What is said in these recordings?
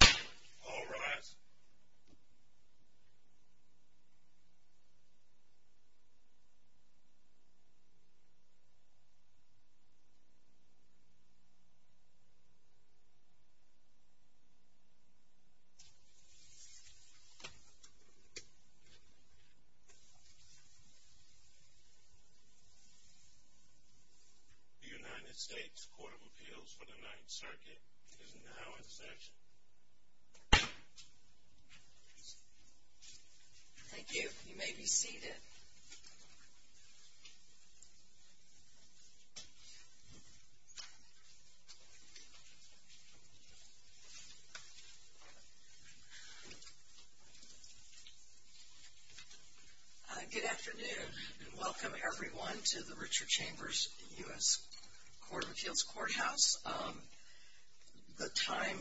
All rise. The United States Court of Appeals for the Ninth Circuit is now in session. Thank you. You may be seated. Good afternoon and welcome everyone to the Richard Chambers U.S. Court of Appeals Courthouse. The time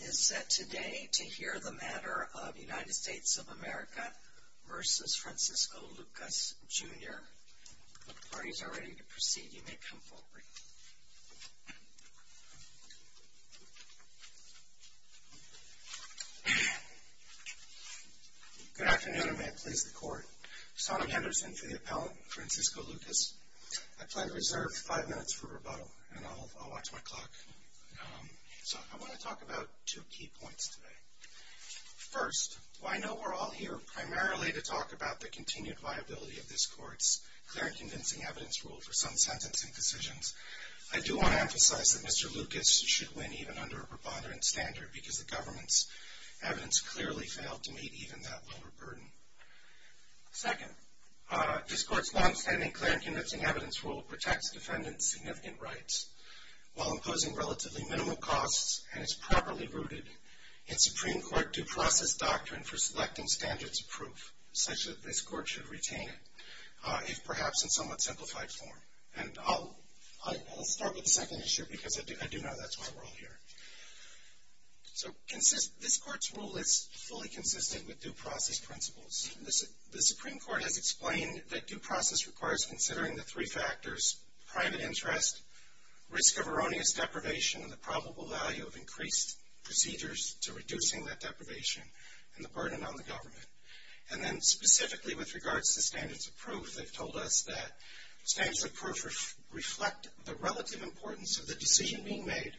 is set today to hear the matter of United States of America v. Francisco Lucas, Jr. If the parties are ready to proceed, you may come forward. Good afternoon and may it please the Court. Sonny Henderson for the appellant, Francisco Lucas. I plan to reserve five minutes for rebuttal, and I'll watch my clock. So I want to talk about two key points today. First, while I know we're all here primarily to talk about the continued viability of this Court's clear and convincing evidence rule for some sentencing decisions, I do want to emphasize that Mr. Lucas should win even under a preponderant standard because the government's evidence clearly failed to meet even that lower burden. Second, this Court's longstanding clear and convincing evidence rule protects defendants' significant rights while imposing relatively minimum costs and is properly rooted in Supreme Court due process doctrine for selecting standards of proof, such that this Court should retain it, if perhaps in somewhat simplified form. And I'll start with the second issue because I do know that's why we're all here. So this Court's rule is fully consistent with due process principles. The Supreme Court has explained that due process requires considering the three factors, private interest, risk of erroneous deprivation, and the probable value of increased procedures to reducing that deprivation and the burden on the government. And then specifically with regards to standards of proof, they've told us that standards of proof reflect the relative importance of the decision being made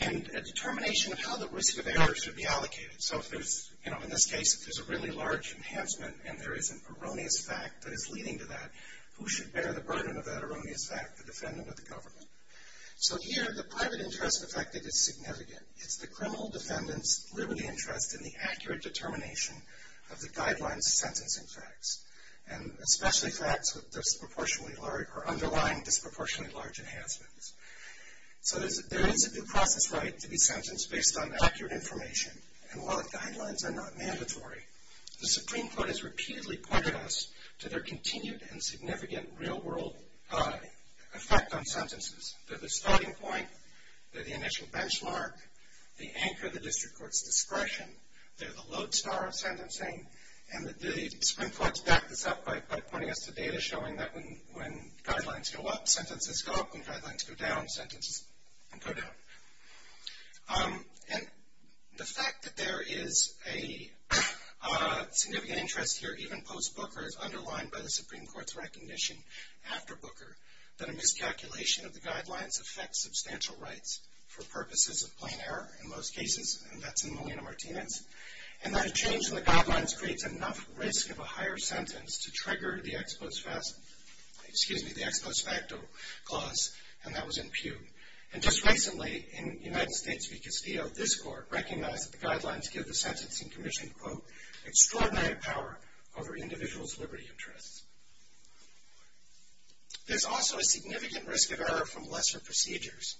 and a determination of how the risk of error should be allocated. So if there's, you know, in this case, if there's a really large enhancement and there is an erroneous fact that is leading to that, who should bear the burden of that erroneous fact, the defendant or the government? So here, the private interest affected is significant. It's the criminal defendant's liberty and trust in the accurate determination of the guidelines sentencing facts, and especially facts with disproportionately large or underlying disproportionately large enhancements. So there is a due process right to be sentenced based on accurate information, and while the guidelines are not mandatory, the Supreme Court has repeatedly pointed us to their continued and significant real-world effect on sentences. They're the starting point. They're the initial benchmark. They anchor the district court's discretion. They're the lodestar of sentencing. And the Supreme Court's backed this up by pointing us to data showing that when guidelines go up, sentences go up. When guidelines go down, sentences go down. And the fact that there is a significant interest here, even post-Booker, is underlined by the Supreme Court's recognition after Booker that a miscalculation of the guidelines affects substantial rights for purposes of plain error in most cases, and that's in Molina-Martinez, and that a change in the guidelines creates enough risk of a higher sentence to trigger the ex post facto clause, and that was in Pew. And just recently, in United States v. Castillo, this court recognized that the guidelines give the sentencing commission, quote, extraordinary power over individuals' liberty interests. There's also a significant risk of error from lesser procedures.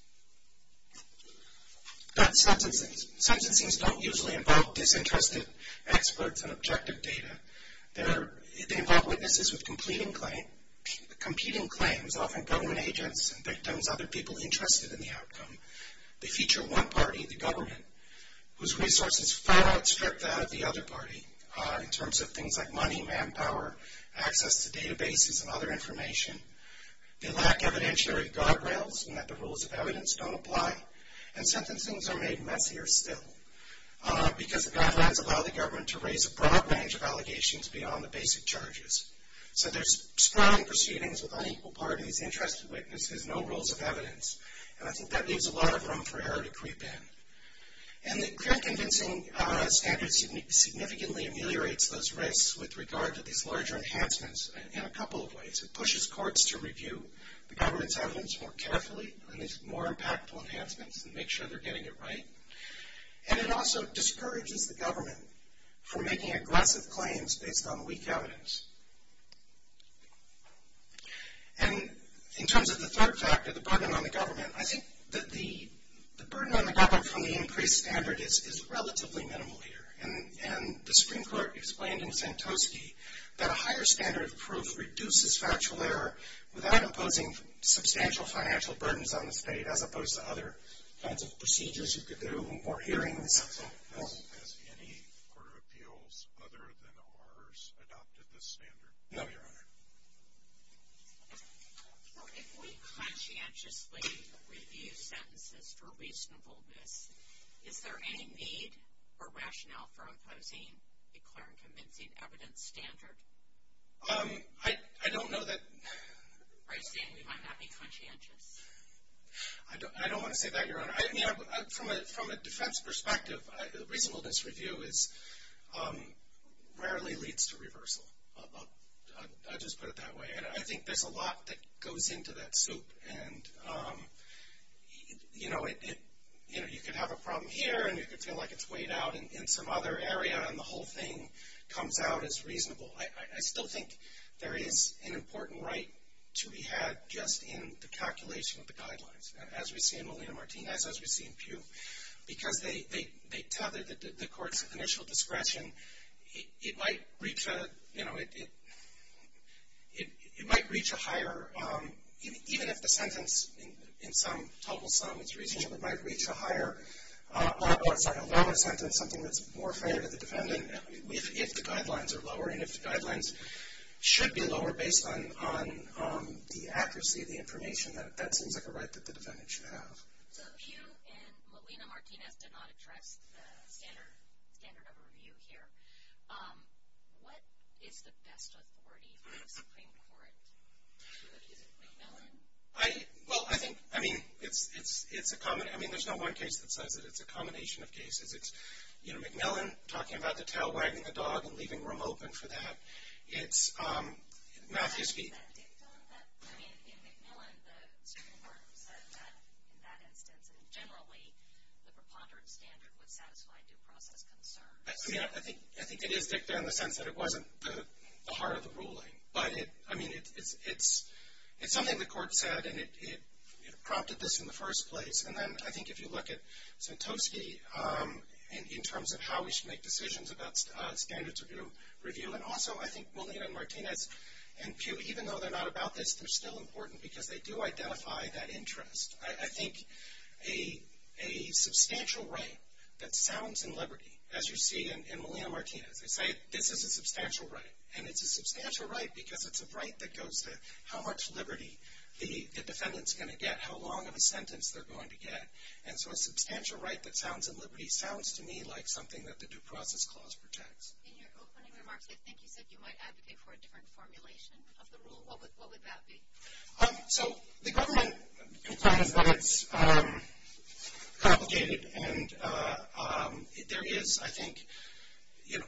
Sentencings don't usually involve disinterested experts and objective data. They involve witnesses with competing claims, often government agents and victims, other people interested in the outcome. They feature one party, the government, whose resources far outstrip that of the other party in terms of things like money, manpower, access to databases and other information. They lack evidentiary guardrails in that the rules of evidence don't apply, and sentencings are made messier still because the guidelines allow the government to raise a broad range of allegations beyond the basic charges. So there's sprouting proceedings with unequal parties, interested witnesses, no rules of evidence, and I think that leaves a lot of room for error to creep in. And the threat-convincing standard significantly ameliorates those risks with regard to these larger enhancements in a couple of ways. It pushes courts to review the government's evidence more carefully on these more impactful enhancements and make sure they're getting it right. And it also discourages the government from making aggressive claims based on weak evidence. And in terms of the third factor, the burden on the government, I think that the burden on the government from the increased standard is relatively minimal here. And the Supreme Court explained in Santoski that a higher standard of proof reduces factual error without imposing substantial financial burdens on the state as opposed to other kinds of procedures you could do or hearings. Has any court of appeals other than ours adopted this standard? No, Your Honor. So if we conscientiously review sentences for reasonableness, is there any need or rationale for imposing a clear and convincing evidence standard? I don't know that. Are you saying we might not be conscientious? I don't want to say that, Your Honor. I mean, from a defense perspective, reasonableness review rarely leads to reversal. I'll just put it that way. And I think there's a lot that goes into that soup. And, you know, you could have a problem here, and you could feel like it's weighed out in some other area, and the whole thing comes out as reasonable. I still think there is an important right to be had just in the calculation of the guidelines. As we see in Molina-Martinez, as we see in Pew, because they tethered the court's initial discretion. It might reach a higher, even if the sentence in some total sum is reasonable, it might reach a lower sentence, something that's more fair to the defendant, if the guidelines are lower and if the guidelines should be lower based on the accuracy of the information. That seems like a right that the defendant should have. So Pew and Molina-Martinez did not address the standard of review here. What is the best authority for the Supreme Court to accuse McMillan? Well, I think, I mean, it's a common, I mean, there's no one case that says it. It's a combination of cases. It's, you know, McMillan talking about the tail wagging a dog and leaving room open for that. It's, Matthews v. Is that dicta? I mean, in McMillan, the Supreme Court said that in that instance, and generally the preponderance standard would satisfy due process concerns. I mean, I think it is dicta in the sense that it wasn't the heart of the ruling. But, I mean, it's something the court said, and it prompted this in the first place. And then I think if you look at Santosky in terms of how we should make decisions about standards of review, and also I think Molina-Martinez and Pew, even though they're not about this, they're still important because they do identify that interest. I think a substantial right that sounds in liberty, as you see in Molina-Martinez, they say this is a substantial right. And it's a substantial right because it's a right that goes to how much liberty the defendant's going to get, how long of a sentence they're going to get. And so a substantial right that sounds in liberty sounds to me like something that the Due Process Clause protects. In your opening remarks, I think you said you might advocate for a different formulation of the rule. What would that be? So the government complains that it's complicated, and there is, I think, you know,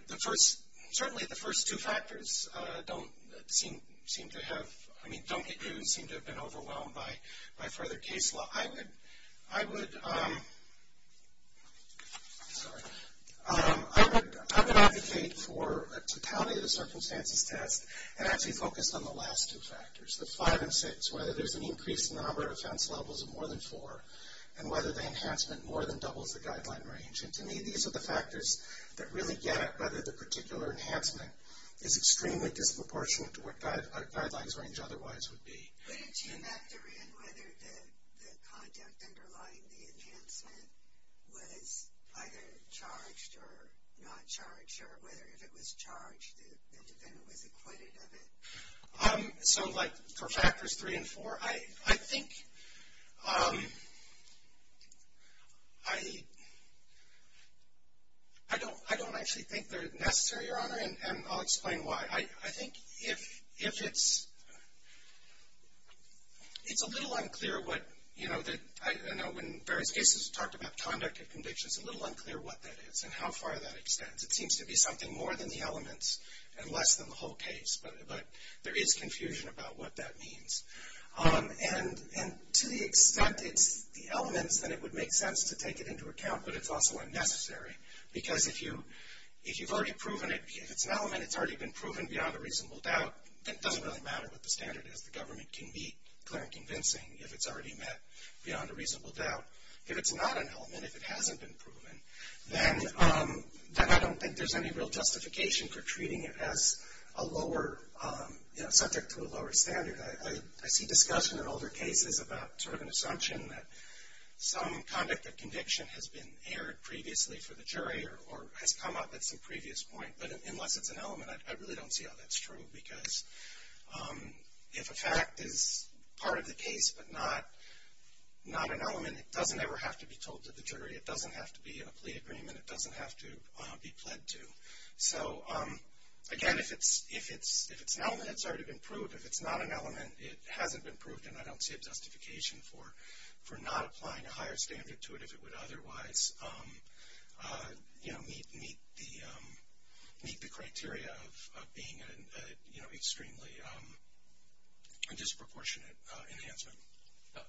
certainly the first two factors don't seem to have, I mean, don't seem to have been overwhelmed by further case law. Well, I would advocate for a totality of the circumstances test and actually focus on the last two factors, the five and six, whether there's an increase in the number of offense levels of more than four, and whether the enhancement more than doubles the guideline range. And to me, these are the factors that really get at whether the particular enhancement is extremely disproportionate to what a guidelines range otherwise would be. Would you factor in whether the conduct underlying the enhancement was either charged or not charged, or whether if it was charged the defendant was acquitted of it? So like for factors three and four, I think I don't actually think they're necessary, Your Honor, and I'll explain why. I think if it's, it's a little unclear what, you know, I know in various cases we've talked about conduct and conviction, it's a little unclear what that is and how far that extends. It seems to be something more than the elements and less than the whole case, but there is confusion about what that means. And to the extent it's the elements, then it would make sense to take it into account, but it's also unnecessary because if you've already proven it, if it's an element, and it's already been proven beyond a reasonable doubt, then it doesn't really matter what the standard is. The government can be clear and convincing if it's already met beyond a reasonable doubt. If it's not an element, if it hasn't been proven, then I don't think there's any real justification for treating it as a lower, you know, subject to a lower standard. I see discussion in older cases about sort of an assumption that some conduct and conviction has been aired previously for the jury or has come up at some previous point, but unless it's an element, I really don't see how that's true because if a fact is part of the case but not an element, it doesn't ever have to be told to the jury. It doesn't have to be in a plea agreement. It doesn't have to be pled to. So, again, if it's an element, it's already been proved. If it's not an element, it hasn't been proved, and I don't see a justification for not applying a higher standard to it if it would otherwise, you know, meet the criteria of being an extremely disproportionate enhancement.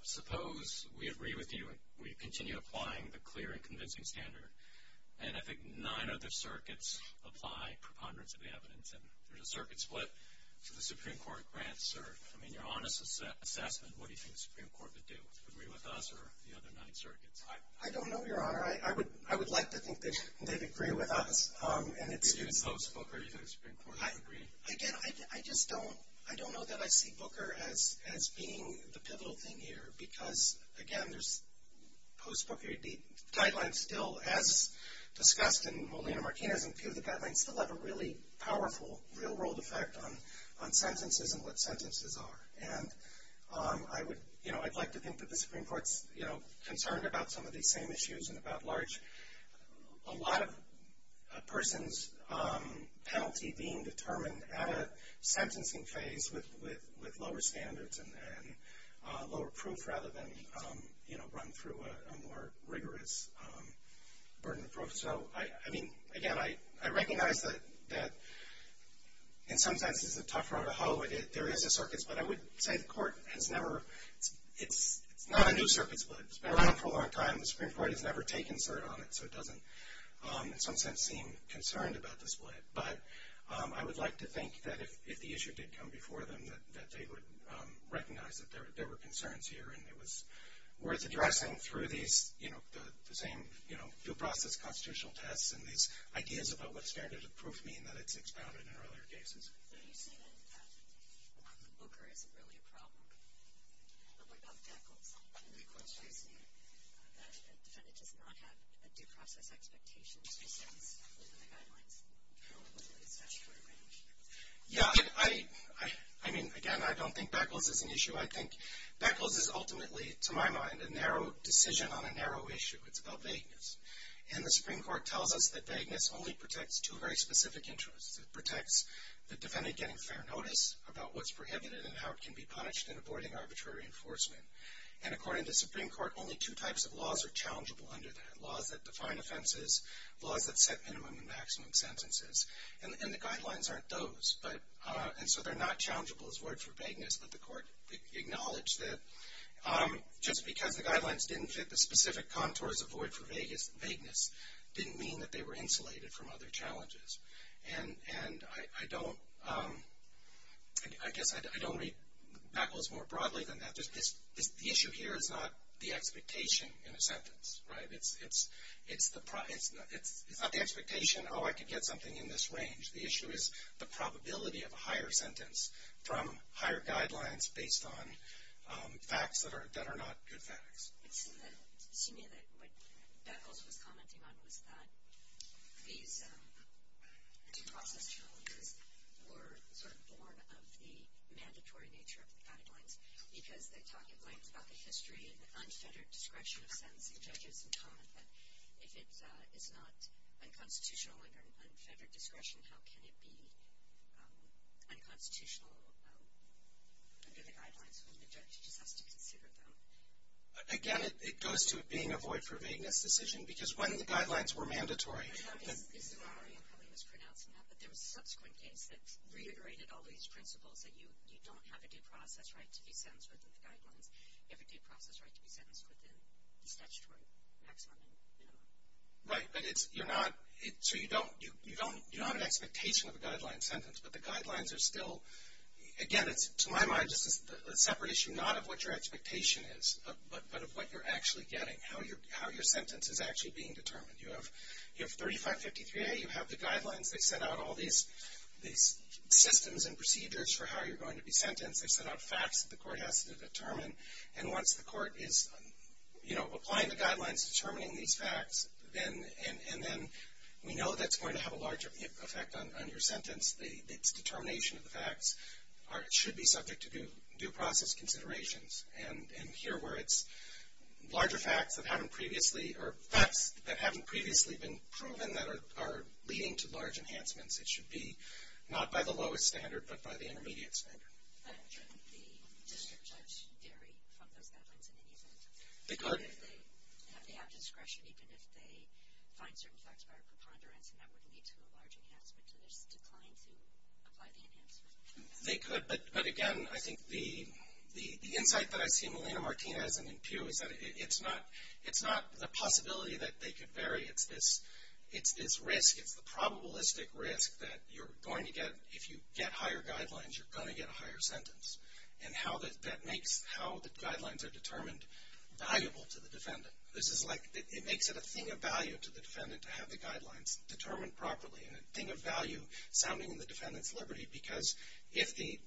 Suppose we agree with you and we continue applying the clear and convincing standard, and I think nine other circuits apply preponderance of evidence, and there's a circuit split, so the Supreme Court grants cert. I mean, your honest assessment, what do you think the Supreme Court would do? Agree with us or the other nine circuits? I don't know, Your Honor. I would like to think that they'd agree with us. Do you think it's post-Booker? Do you think the Supreme Court would agree? Again, I just don't know that I see Booker as being the pivotal thing here because, again, there's post-Booker. The guidelines still, as discussed in Molina-Martinez and Pew, the guidelines still have a really powerful real-world effect on sentences and what sentences are, and, you know, I'd like to think that the Supreme Court's, you know, concerned about some of these same issues and about large, a lot of a person's penalty being determined at a sentencing phase with lower standards and lower proof rather than, you know, run through a more rigorous burden of proof. So, I mean, again, I recognize that in some senses it's a tough road to hoe. There is a circuit split. I would say the Court has never, it's not a new circuit split. It's been around for a long time. The Supreme Court has never taken cert on it, so it doesn't in some sense seem concerned about the split. But I would like to think that if the issue did come before them that they would recognize that there were concerns here, and it was worth addressing through these, you know, the same, you know, due process constitutional tests and these ideas about what standard of proof mean, that it's expounded in earlier cases. You say that Booker isn't really a problem. But what about Beckles? The Court's raising that a defendant does not have due process expectations since the guidelines are only within the statutory range. Yeah, I mean, again, I don't think Beckles is an issue. I think Beckles is ultimately, to my mind, a narrow decision on a narrow issue. It's about vagueness. And the Supreme Court tells us that vagueness only protects two very specific interests. It protects the defendant getting fair notice about what's prohibited and how it can be punished in avoiding arbitrary enforcement. And according to the Supreme Court, only two types of laws are challengeable under that, laws that define offenses, laws that set minimum and maximum sentences. And the guidelines aren't those. And so they're not challengeable as void for vagueness, but the Court acknowledged that just because the guidelines didn't fit the specific contours of void for vagueness didn't mean that they were insulated from other challenges. And I guess I don't read Beckles more broadly than that. The issue here is not the expectation in a sentence. It's not the expectation, oh, I could get something in this range. The issue is the probability of a higher sentence from higher guidelines based on facts that are not good facts. It seemed to me that what Beckles was commenting on was that these due process challenges were sort of born of the mandatory nature of the guidelines because they talk at length about the history of unfettered discretion of sentencing judges and comment that if it is not unconstitutional under unfettered discretion, how can it be unconstitutional under the guidelines when the judge just has to consider them. Again, it goes to being a void for vagueness decision because when the guidelines were mandatory... I'm sorry, I probably mispronounced that, but there was a subsequent case that reiterated all these principles that you don't have a due process right to be sentenced within the guidelines. You have a due process right to be sentenced within the statutory maximum minimum. Right, but you're not... So you don't have an expectation of a guideline sentence, but the guidelines are still... Again, to my mind, this is a separate issue not of what your expectation is, but of what you're actually getting, how your sentence is actually being determined. You have 3553A. You have the guidelines. They set out all these systems and procedures for how you're going to be sentenced. They set out facts that the court has to determine, and once the court is applying the guidelines, determining these facts, then we know that's going to have a larger effect on your sentence. Its determination of the facts should be subject to due process considerations. And here where it's larger facts that haven't previously been proven that are leading to large enhancements, it should be not by the lowest standard, but by the intermediate standard. But shouldn't the district judge vary from those guidelines in any event? They could. They have to have discretion even if they find certain facts by a preponderance, and that would lead to a large enhancement. So there's a decline to apply the enhancement. They could, but again, I think the insight that I see in Melina Martinez and in Pew is that it's not the possibility that they could vary. It's this risk. It's the probabilistic risk that you're going to get, if you get higher guidelines, you're going to get a higher sentence. And that makes how the guidelines are determined valuable to the defendant. It makes it a thing of value to the defendant to have the guidelines determined properly, and a thing of value sounding in the defendant's liberty because if the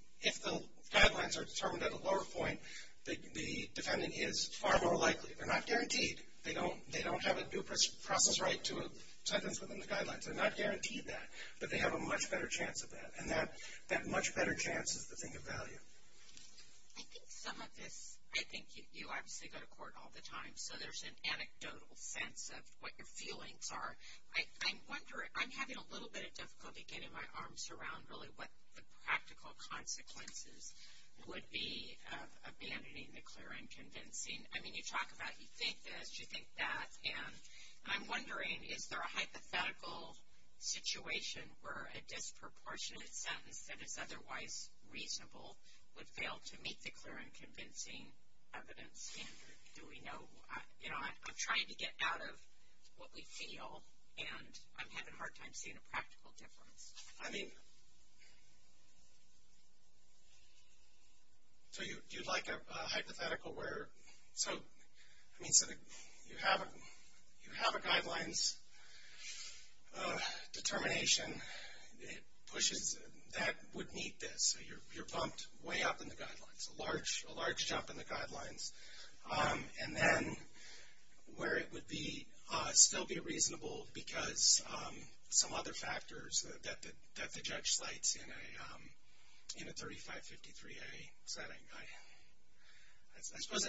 guidelines are determined at a lower point, the defendant is far more likely. They're not guaranteed. They don't have a due process right to a sentence within the guidelines. They're not guaranteed that, but they have a much better chance of that. And that much better chance is the thing of value. I think some of this, I think you obviously go to court all the time, so there's an anecdotal sense of what your feelings are. I'm having a little bit of difficulty getting my arms around really what the practical consequences would be of abandoning the clear and convincing. I mean, you talk about you think this, you think that, and I'm wondering is there a hypothetical situation where a disproportionate sentence that is otherwise reasonable would fail to meet the clear and convincing evidence? And do we know, you know, I'm trying to get out of what we feel, and I'm having a hard time seeing a practical difference. I mean, so you'd like a hypothetical where, so you have a guidelines determination. It pushes, that would meet this. You're pumped way up in the guidelines, a large jump in the guidelines. And then where it would be, still be reasonable because some other factors, that the judge slides in a 3553A setting. I suppose,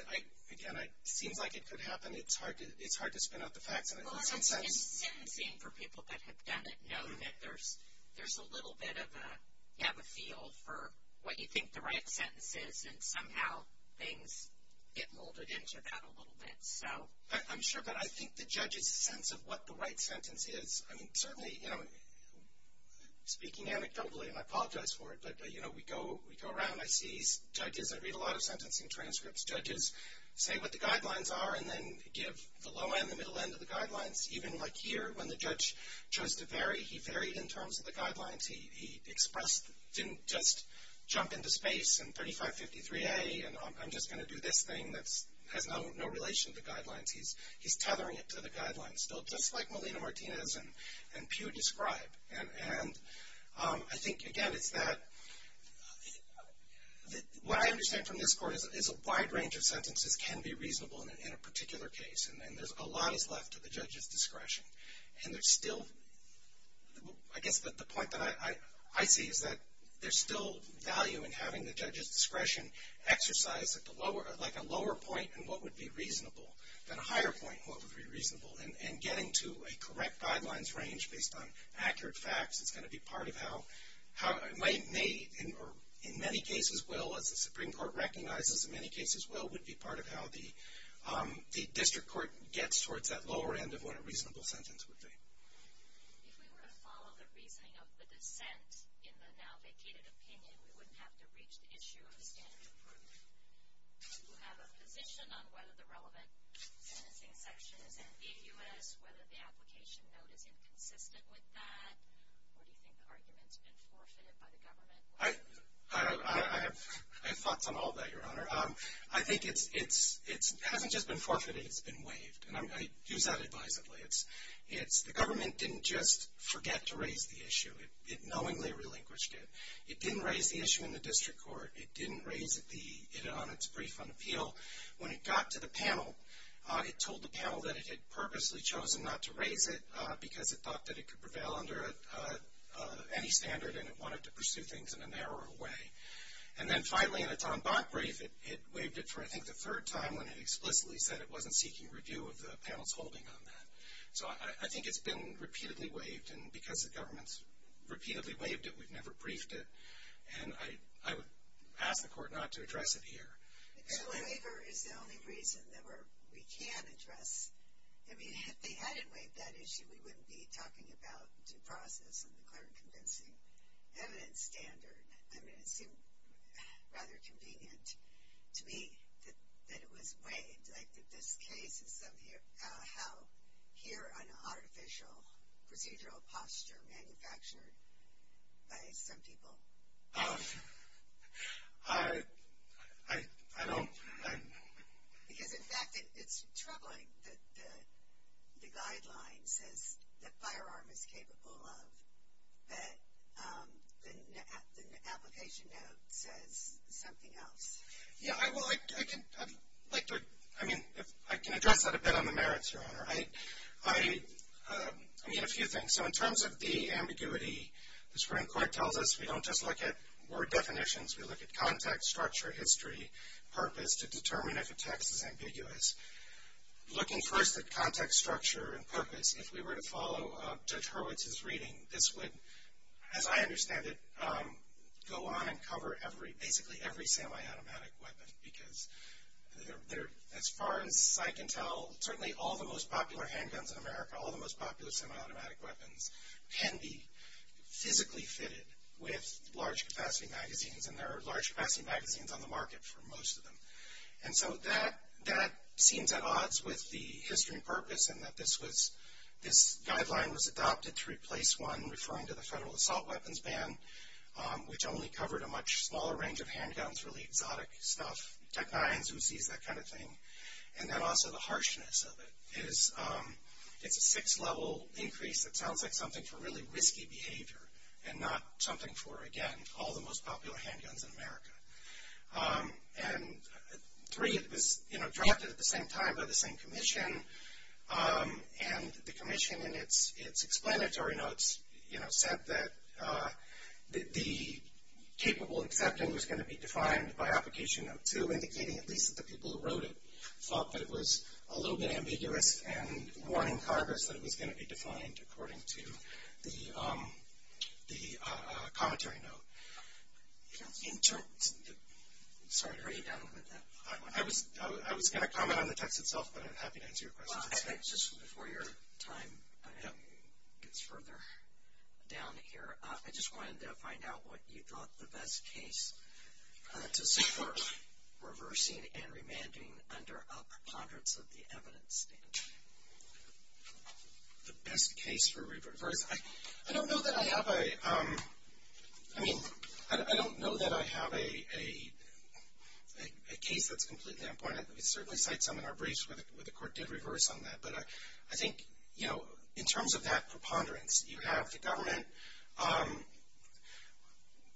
again, it seems like it could happen. It's hard to spin out the facts in some sense. And sentencing for people that have done it know that there's a little bit of a, you have a feel for what you think the right sentence is, and somehow things get molded into that a little bit. So. I'm sure, but I think the judge's sense of what the right sentence is, I mean, certainly, you know, speaking anecdotally, and I apologize for it, but, you know, we go around. I see judges, I read a lot of sentencing transcripts. Where judges say what the guidelines are and then give the low end, the middle end of the guidelines. Even like here, when the judge chose to vary, he varied in terms of the guidelines. He expressed, didn't just jump into space and 3553A, and I'm just going to do this thing that has no relation to the guidelines. He's tethering it to the guidelines. Just like Melina Martinez and Pew describe. And I think, again, it's that what I understand from this court is a wide range of sentences can be reasonable in a particular case. And there's a lot that's left to the judge's discretion. And there's still, I guess the point that I see is that there's still value in having the judge's discretion exercise at the lower, like a lower point in what would be reasonable than a higher point in what would be reasonable. And getting to a correct guidelines range based on accurate facts is going to be part of how, in many cases will, as the Supreme Court recognizes in many cases will, would be part of how the district court gets towards that lower end of what a reasonable sentence would be. If we were to follow the reasoning of the dissent in the now vacated opinion, we wouldn't have to reach the issue of the standard of proof. Do you have a position on whether the relevant sentencing section is in the U.S., whether the application note is inconsistent with that, or do you think the argument's been forfeited by the government? I have thoughts on all that, Your Honor. I think it hasn't just been forfeited, it's been waived. And I use that advisedly. The government didn't just forget to raise the issue, it knowingly relinquished it. It didn't raise the issue in the district court. It didn't raise it on its brief on appeal. When it got to the panel, it told the panel that it had purposely chosen not to raise it because it thought that it could prevail under any standard and it wanted to pursue things in a narrower way. And then finally in a Tom Bott brief, it waived it for I think the third time when it explicitly said it wasn't seeking review of the panel's holding on that. So I think it's been repeatedly waived, and because the government's repeatedly waived it, we've never briefed it, and I would ask the court not to address it here. The waiver is the only reason that we can address. I mean, if they hadn't waived that issue, we wouldn't be talking about due process and the clear and convincing evidence standard. I mean, it seemed rather convenient to me that it was waived. This case is how here an artificial procedural posture manufactured by some people. I don't. Because in fact, it's troubling that the guideline says the firearm is capable of, but the application note says something else. Yeah, well, I can address that a bit on the merits, Your Honor. I mean, a few things. So in terms of the ambiguity, the Supreme Court tells us we don't just look at word definitions. We look at context, structure, history, purpose to determine if a text is ambiguous. Looking first at context, structure, and purpose, if we were to follow Judge Hurwitz's reading, this would, as I understand it, go on and cover basically every semiautomatic weapon. Because as far as I can tell, certainly all the most popular handguns in America, all the most popular semiautomatic weapons can be physically fitted with large capacity magazines, and there are large capacity magazines on the market for most of them. And so that seems at odds with the history and purpose, and that this guideline was adopted to replace one referring to the Federal Assault Weapons Ban, which only covered a much smaller range of handguns, really exotic stuff. Tech Nines, who sees that kind of thing? And then also the harshness of it. It's a six-level increase that sounds like something for really risky behavior and not something for, again, all the most popular handguns in America. And three, it was, you know, drafted at the same time by the same commission, and the commission in its explanatory notes, you know, said that the capable accepting was going to be defined by Application Note 2, indicating at least that the people who wrote it thought that it was a little bit ambiguous and warning Congress that it was going to be defined according to the commentary note. In terms of the, sorry, are you done with that? I was going to comment on the text itself, but I'm happy to answer your questions. Just before your time gets further down here, I just wanted to find out what you thought the best case to support reversing and remanding under a preponderance of the evidence statement. The best case for reverse? I don't know that I have a, I mean, I don't know that I have a case that's completely unappointed. We certainly cite some in our briefs where the court did reverse on that. But I think, you know, in terms of that preponderance, you have the government.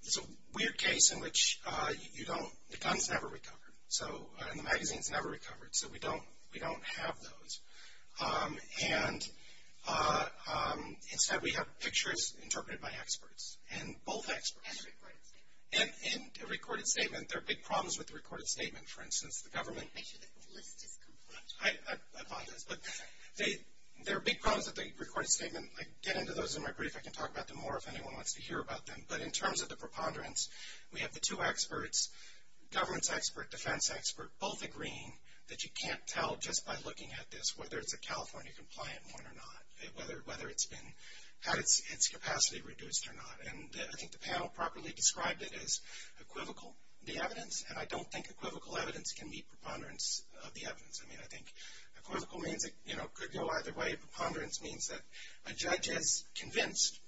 It's a weird case in which you don't, the gun's never recovered, and the magazine's never recovered, so we don't have those. And instead we have pictures interpreted by experts, and both experts. And a recorded statement. And a recorded statement. There are big problems with the recorded statement. For instance, the government. Make sure that the list is complete. I apologize, but there are big problems with the recorded statement. I get into those in my brief. I can talk about them more if anyone wants to hear about them. But in terms of the preponderance, we have the two experts, governance expert, defense expert, both agreeing that you can't tell just by looking at this whether it's a California compliant one or not. Whether it's been, had its capacity reduced or not. And I think the panel properly described it as equivocal. The evidence, and I don't think equivocal evidence can meet preponderance of the evidence. I mean, I think equivocal means it could go either way. Preponderance means that a judge is convinced,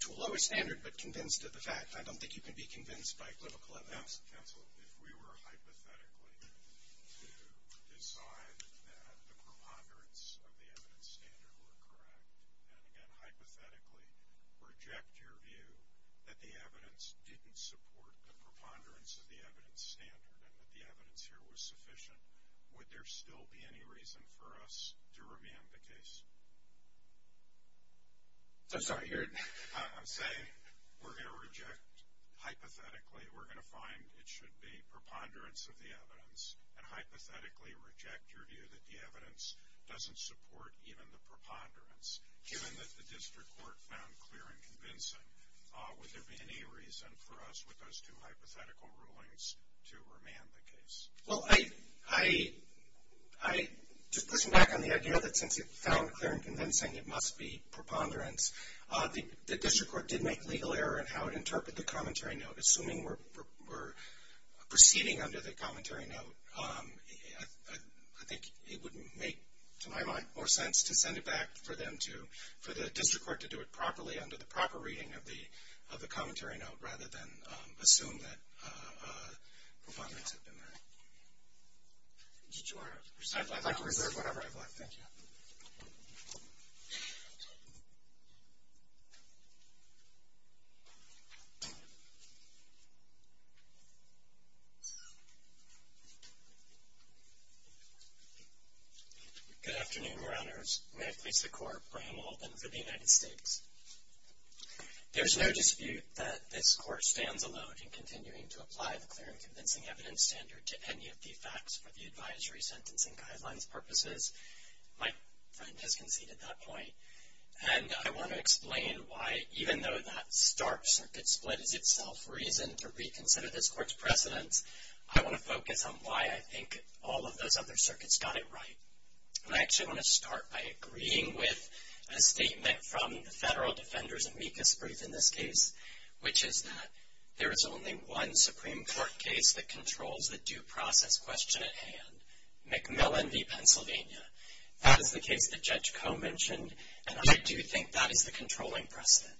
to a lower standard, but convinced of the fact. I don't think you can be convinced by equivocal evidence. Counsel, if we were hypothetically to decide that the preponderance of the evidence standard were correct, and, again, hypothetically reject your view that the evidence didn't support the preponderance of the evidence standard and that the evidence here was sufficient, would there still be any reason for us to remand the case? I'm sorry, you're? I'm saying we're going to reject, hypothetically, we're going to find it should be preponderance of the evidence and hypothetically reject your view that the evidence doesn't support even the preponderance. Given that the district court found clear and convincing, would there be any reason for us with those two hypothetical rulings to remand the case? Well, I'm just pushing back on the idea that since it found clear and convincing, it must be preponderance. The district court did make legal error in how it interpreted the commentary note. Assuming we're proceeding under the commentary note, I think it wouldn't make, to my mind, more sense to send it back for them to, for the district court to do it properly under the proper reading of the commentary note rather than assume that preponderance had been there. I'd like to reserve whatever I have left, thank you. Good afternoon, Your Honors. May I please have the court brand open for the United States? There's no dispute that this court stands alone in continuing to apply the clear and convincing evidence standard to any of the facts for the advisory sentencing guidelines purposes. My friend has conceded that point. And I want to explain why, even though that stark circuit split is itself reason to reconsider this court's precedence, I want to focus on why I think all of those other circuits got it right. And I actually want to start by agreeing with a statement from the Federal Defenders' amicus brief in this case, which is that there is only one Supreme Court case that controls the due process question at hand, McMillan v. Pennsylvania. That is the case that Judge Koh mentioned, and I do think that is the controlling precedent.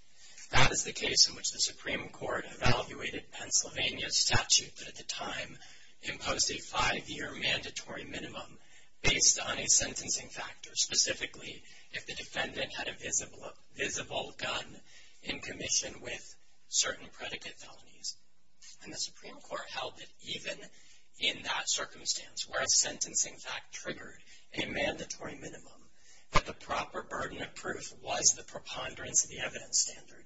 That is the case in which the Supreme Court evaluated Pennsylvania's statute that, at the time, imposed a five-year mandatory minimum based on a sentencing factor, specifically if the defendant had a visible gun in commission with certain predicate felonies. And the Supreme Court held that even in that circumstance, where a sentencing fact triggered a mandatory minimum, that the proper burden of proof was the preponderance of the evidence standard.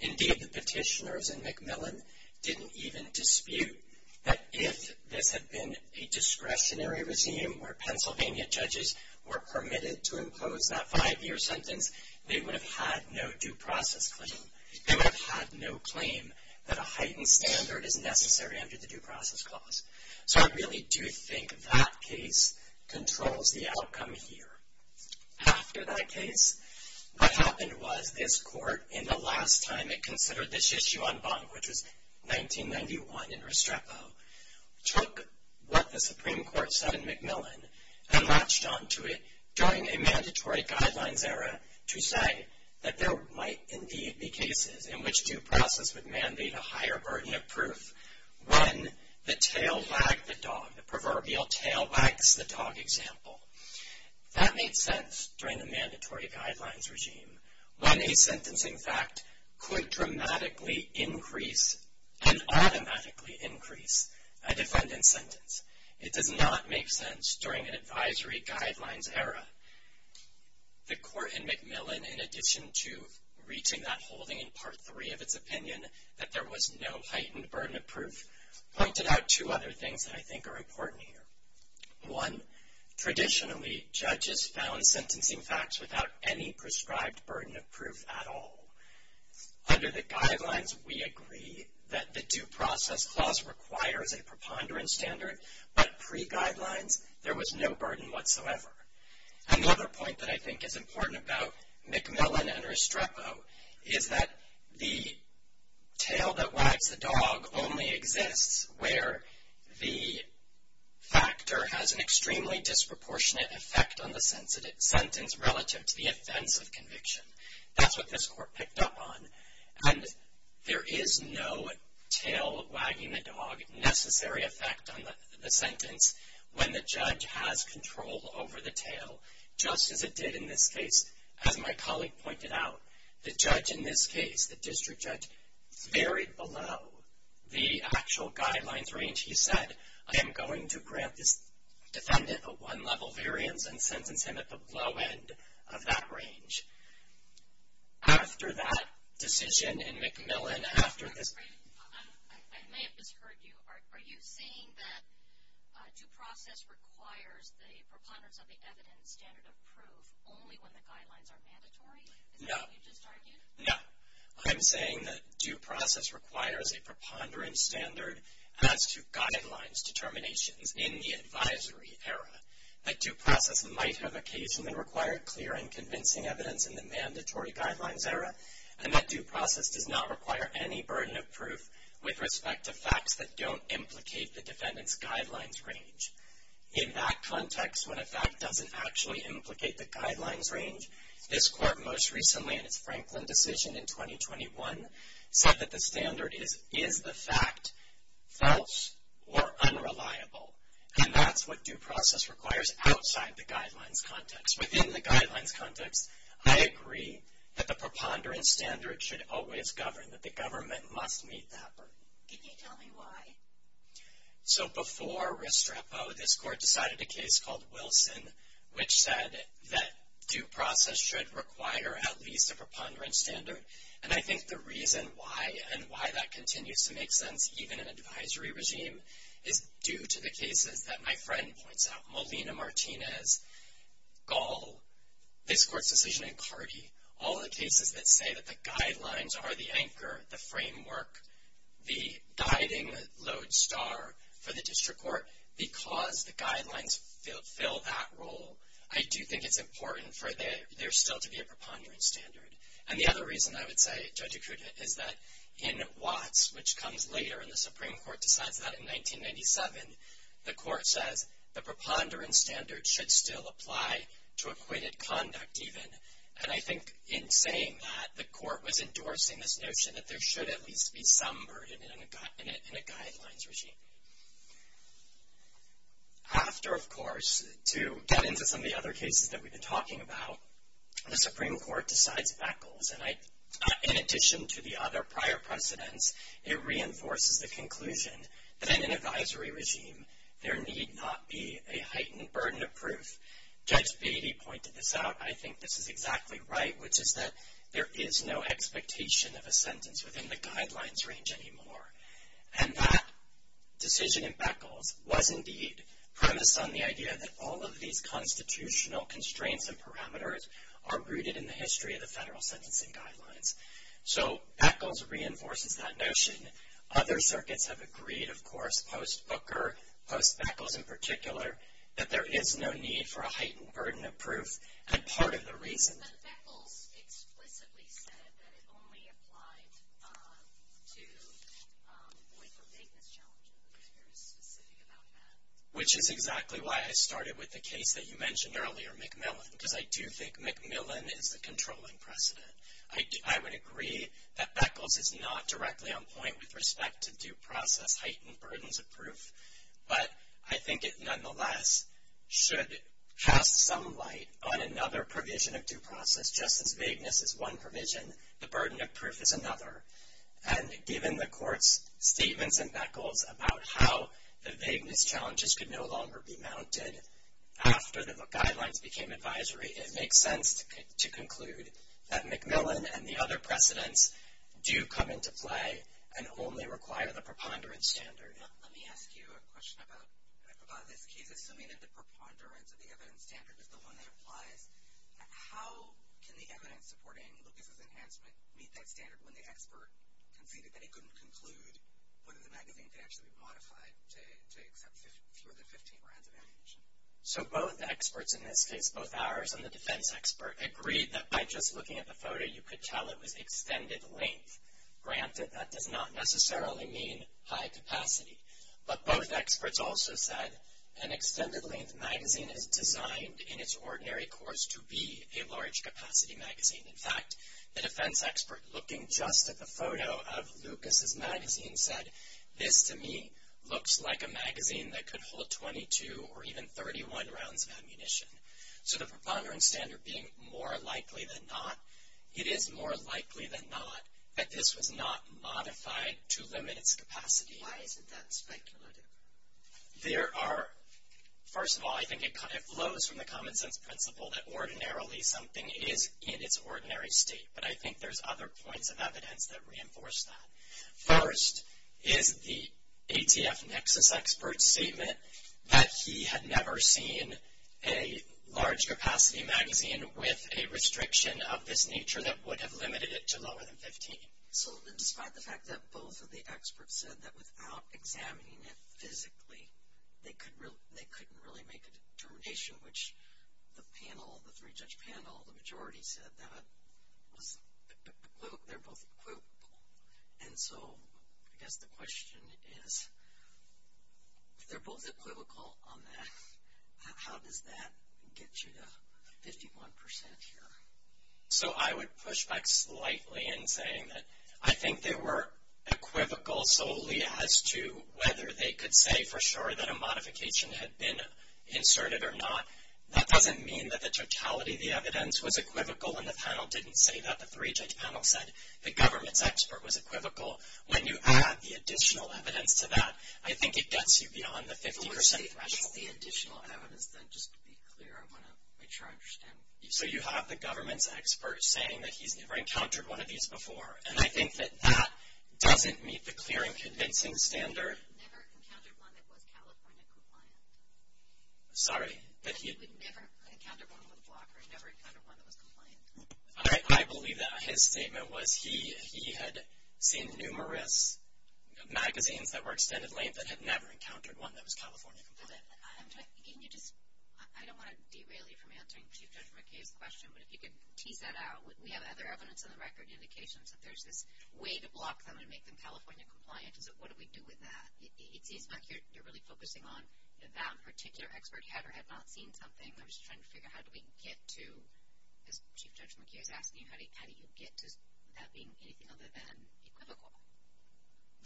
Indeed, the petitioners in McMillan didn't even dispute that if this had been a discretionary regime where Pennsylvania judges were permitted to impose that five-year sentence, they would have had no due process claim. They would have had no claim that a heightened standard is necessary under the due process clause. So I really do think that case controls the outcome here. After that case, what happened was this Court, in the last time it considered this issue on Bonk, which was 1991 in Restrepo, took what the Supreme Court said in McMillan and latched onto it during a mandatory guidelines era to say that there might indeed be cases in which due process would mandate a higher burden of proof when the tail wagged the dog, the proverbial tail wags the dog example. That made sense during the mandatory guidelines regime, when a sentencing fact could dramatically increase and automatically increase a defendant's sentence. It does not make sense during an advisory guidelines era. The Court in McMillan, in addition to reaching that holding in Part 3 of its opinion that there was no heightened burden of proof, pointed out two other things that I think are important here. One, traditionally, judges found sentencing facts without any prescribed burden of proof at all. Under the guidelines, we agree that the due process clause requires a preponderance standard, but pre-guidelines, there was no burden whatsoever. Another point that I think is important about McMillan and Restrepo is that the tail that wags the dog only exists where the factor has an extremely disproportionate effect That's what this Court picked up on, and there is no tail wagging the dog necessary effect on the sentence when the judge has control over the tail, just as it did in this case. As my colleague pointed out, the judge in this case, the district judge, varied below the actual guidelines range. He said, I am going to grant this defendant a one-level variance and sentence him at the low end of that range. After that decision in McMillan, after this... I may have misheard you. Are you saying that due process requires the preponderance of the evidence standard of proof only when the guidelines are mandatory? No. Is that what you just argued? No. I'm saying that due process requires a preponderance standard as to guidelines determinations in the advisory era. That due process might have occasionally required clear and convincing evidence in the mandatory guidelines era, and that due process does not require any burden of proof with respect to facts that don't implicate the defendant's guidelines range. In that context, when a fact doesn't actually implicate the guidelines range, this court most recently in its Franklin decision in 2021 said that the standard is the fact false or unreliable, and that's what due process requires outside the guidelines context. Within the guidelines context, I agree that the preponderance standard should always govern, that the government must meet that burden. Can you tell me why? So before Restrepo, this court decided a case called Wilson, which said that due process should require at least a preponderance standard, and I think the reason why and why that continues to make sense even in an advisory regime is due to the cases that my friend points out, Molina-Martinez, Gall, this court's decision in Cardi, all the cases that say that the guidelines are the anchor, the framework, the guiding lodestar for the district court, because the guidelines fill that role, I do think it's important for there still to be a preponderance standard. And the other reason I would say, Judge Acuda, is that in Watts, which comes later, and the Supreme Court decides that in 1997, the court says the preponderance standard should still apply to acquitted conduct even, and I think in saying that, the court was endorsing this notion that there should at least be some burden in a guidelines regime. After, of course, to get into some of the other cases that we've been talking about, the Supreme Court decides Beckles, and in addition to the other prior precedents, it reinforces the conclusion that in an advisory regime, there need not be a heightened burden of proof. Judge Beatty pointed this out, I think this is exactly right, which is that there is no expectation of a sentence within the guidelines range anymore. And that decision in Beckles was indeed premised on the idea that all of these constitutional constraints and parameters are rooted in the history of the federal sentencing guidelines. So, Beckles reinforces that notion. Other circuits have agreed, of course, post-Booker, post-Beckles in particular, that there is no need for a heightened burden of proof, and part of the reason... Which is exactly why I started with the case that you mentioned earlier, McMillan, because I do think McMillan is the controlling precedent. I would agree that Beckles is not directly on point with respect to due process heightened burdens of proof, but I think it nonetheless should cast some light on another provision of due process. Just as vagueness is one provision, the burden of proof is another. And given the Court's statements in Beckles about how the vagueness challenges could no longer be mounted after the guidelines became advisory, it makes sense to conclude that McMillan and the other precedents do come into play and only require the preponderance standard. Let me ask you a question about this case. Assuming that the preponderance of the evidence standard is the one that applies, how can the evidence supporting Lucas's enhancement meet that standard when the expert conceded that it couldn't conclude whether the magazine could actually be modified to accept fewer than 15 rounds of ammunition? So both experts in this case, both ours and the defense expert, agreed that by just looking at the photo you could tell it was extended length. Granted, that does not necessarily mean high capacity, but both experts also said an extended length magazine is designed in its ordinary course to be a large capacity magazine. In fact, the defense expert, looking just at the photo of Lucas's magazine, said, this to me looks like a magazine that could hold 22 or even 31 rounds of ammunition. So the preponderance standard being more likely than not, it is more likely than not that this was not modified to limit its capacity. Why isn't that speculative? There are, first of all, I think it flows from the common sense principle that ordinarily something is in its ordinary state, but I think there's other points of evidence that reinforce that. First is the ATF nexus expert's statement that he had never seen a large capacity magazine with a restriction of this nature that would have limited it to lower than 15. So despite the fact that both of the experts said that without examining it physically, they couldn't really make a determination, which the panel, the three-judge panel, the majority said that they're both equivocal. And so I guess the question is, if they're both equivocal on that, how does that get you to 51% here? So I would push back slightly in saying that I think they were equivocal solely as to whether they could say for sure that a modification had been inserted or not. That doesn't mean that the totality of the evidence was equivocal and the panel didn't say that. The three-judge panel said the government's expert was equivocal. When you add the additional evidence to that, I think it gets you beyond the 50% threshold. But let's say just the additional evidence, then, just to be clear, I want to make sure I understand. So you have the government's expert saying that he's never encountered one of these before, and I think that that doesn't meet the clear and convincing standard. Never encountered one that was California compliant. Sorry? That he had never encountered one with a blocker, never encountered one that was compliant. I believe that his statement was he had seen numerous magazines that were extended length that had never encountered one that was California compliant. Can you just – I don't want to derail you from answering Chief Judge McKay's question, but if you could tease that out. We have other evidence on the record, indications that there's this way to block them and make them California compliant. So what do we do with that? It seems like you're really focusing on that particular expert had or had not seen something. I'm just trying to figure out how do we get to – because Chief Judge McKay is asking you how do you get to that being anything other than equivocal.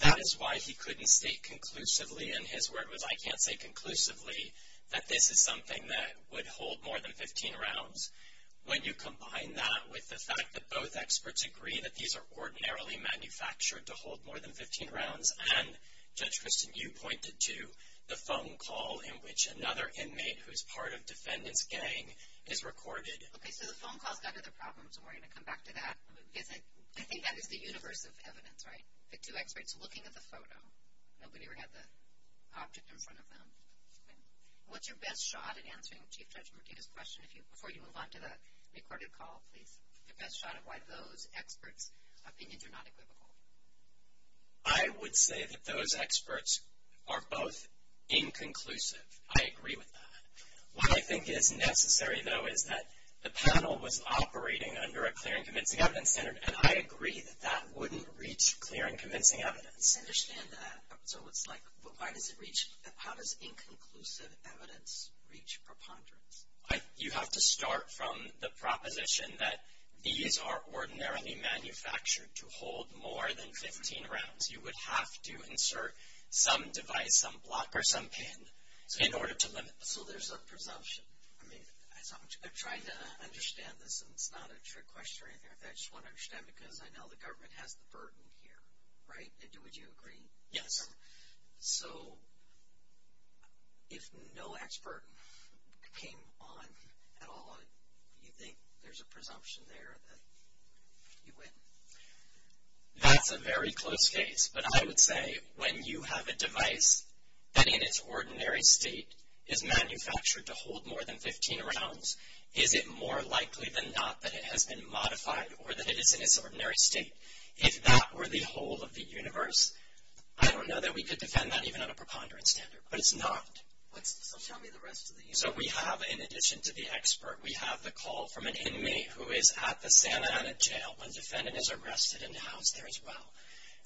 That is why he couldn't state conclusively, and his word was I can't say conclusively, that this is something that would hold more than 15 rounds. When you combine that with the fact that both experts agree that these are ordinarily manufactured to hold more than 15 rounds, and Judge Kristen, you pointed to the phone call in which another inmate who's part of defendant's gang is recorded. Okay, so the phone call's got other problems, and we're going to come back to that. I think that is the universe of evidence, right? The two experts looking at the photo. Nobody ever had the object in front of them. What's your best shot at answering Chief Judge McKay's question? Before you move on to the recorded call, please. Your best shot at why those experts' opinions are not equivocal. I would say that those experts are both inconclusive. I agree with that. What I think is necessary, though, is that the panel was operating under a clear and convincing evidence standard, and I agree that that wouldn't reach clear and convincing evidence. I understand that. So it's like why does it reach – how does inconclusive evidence reach preponderance? You have to start from the proposition that these are ordinarily manufactured to hold more than 15 rounds. You would have to insert some device, some block or some pin in order to limit this. So there's a presumption. I'm trying to understand this, and it's not a trick question or anything. I just want to understand because I know the government has the burden here, right? Would you agree? Yes. So if no expert came on at all, do you think there's a presumption there that you win? That's a very close case, but I would say when you have a device that in its ordinary state is manufactured to hold more than 15 rounds, is it more likely than not that it has been modified or that it is in its ordinary state? If that were the whole of the universe, I don't know that we could defend that even on a preponderance standard, but it's not. So tell me the rest of the universe. So we have, in addition to the expert, we have the call from an inmate who is at the Santa Ana jail when a defendant is arrested and housed there as well.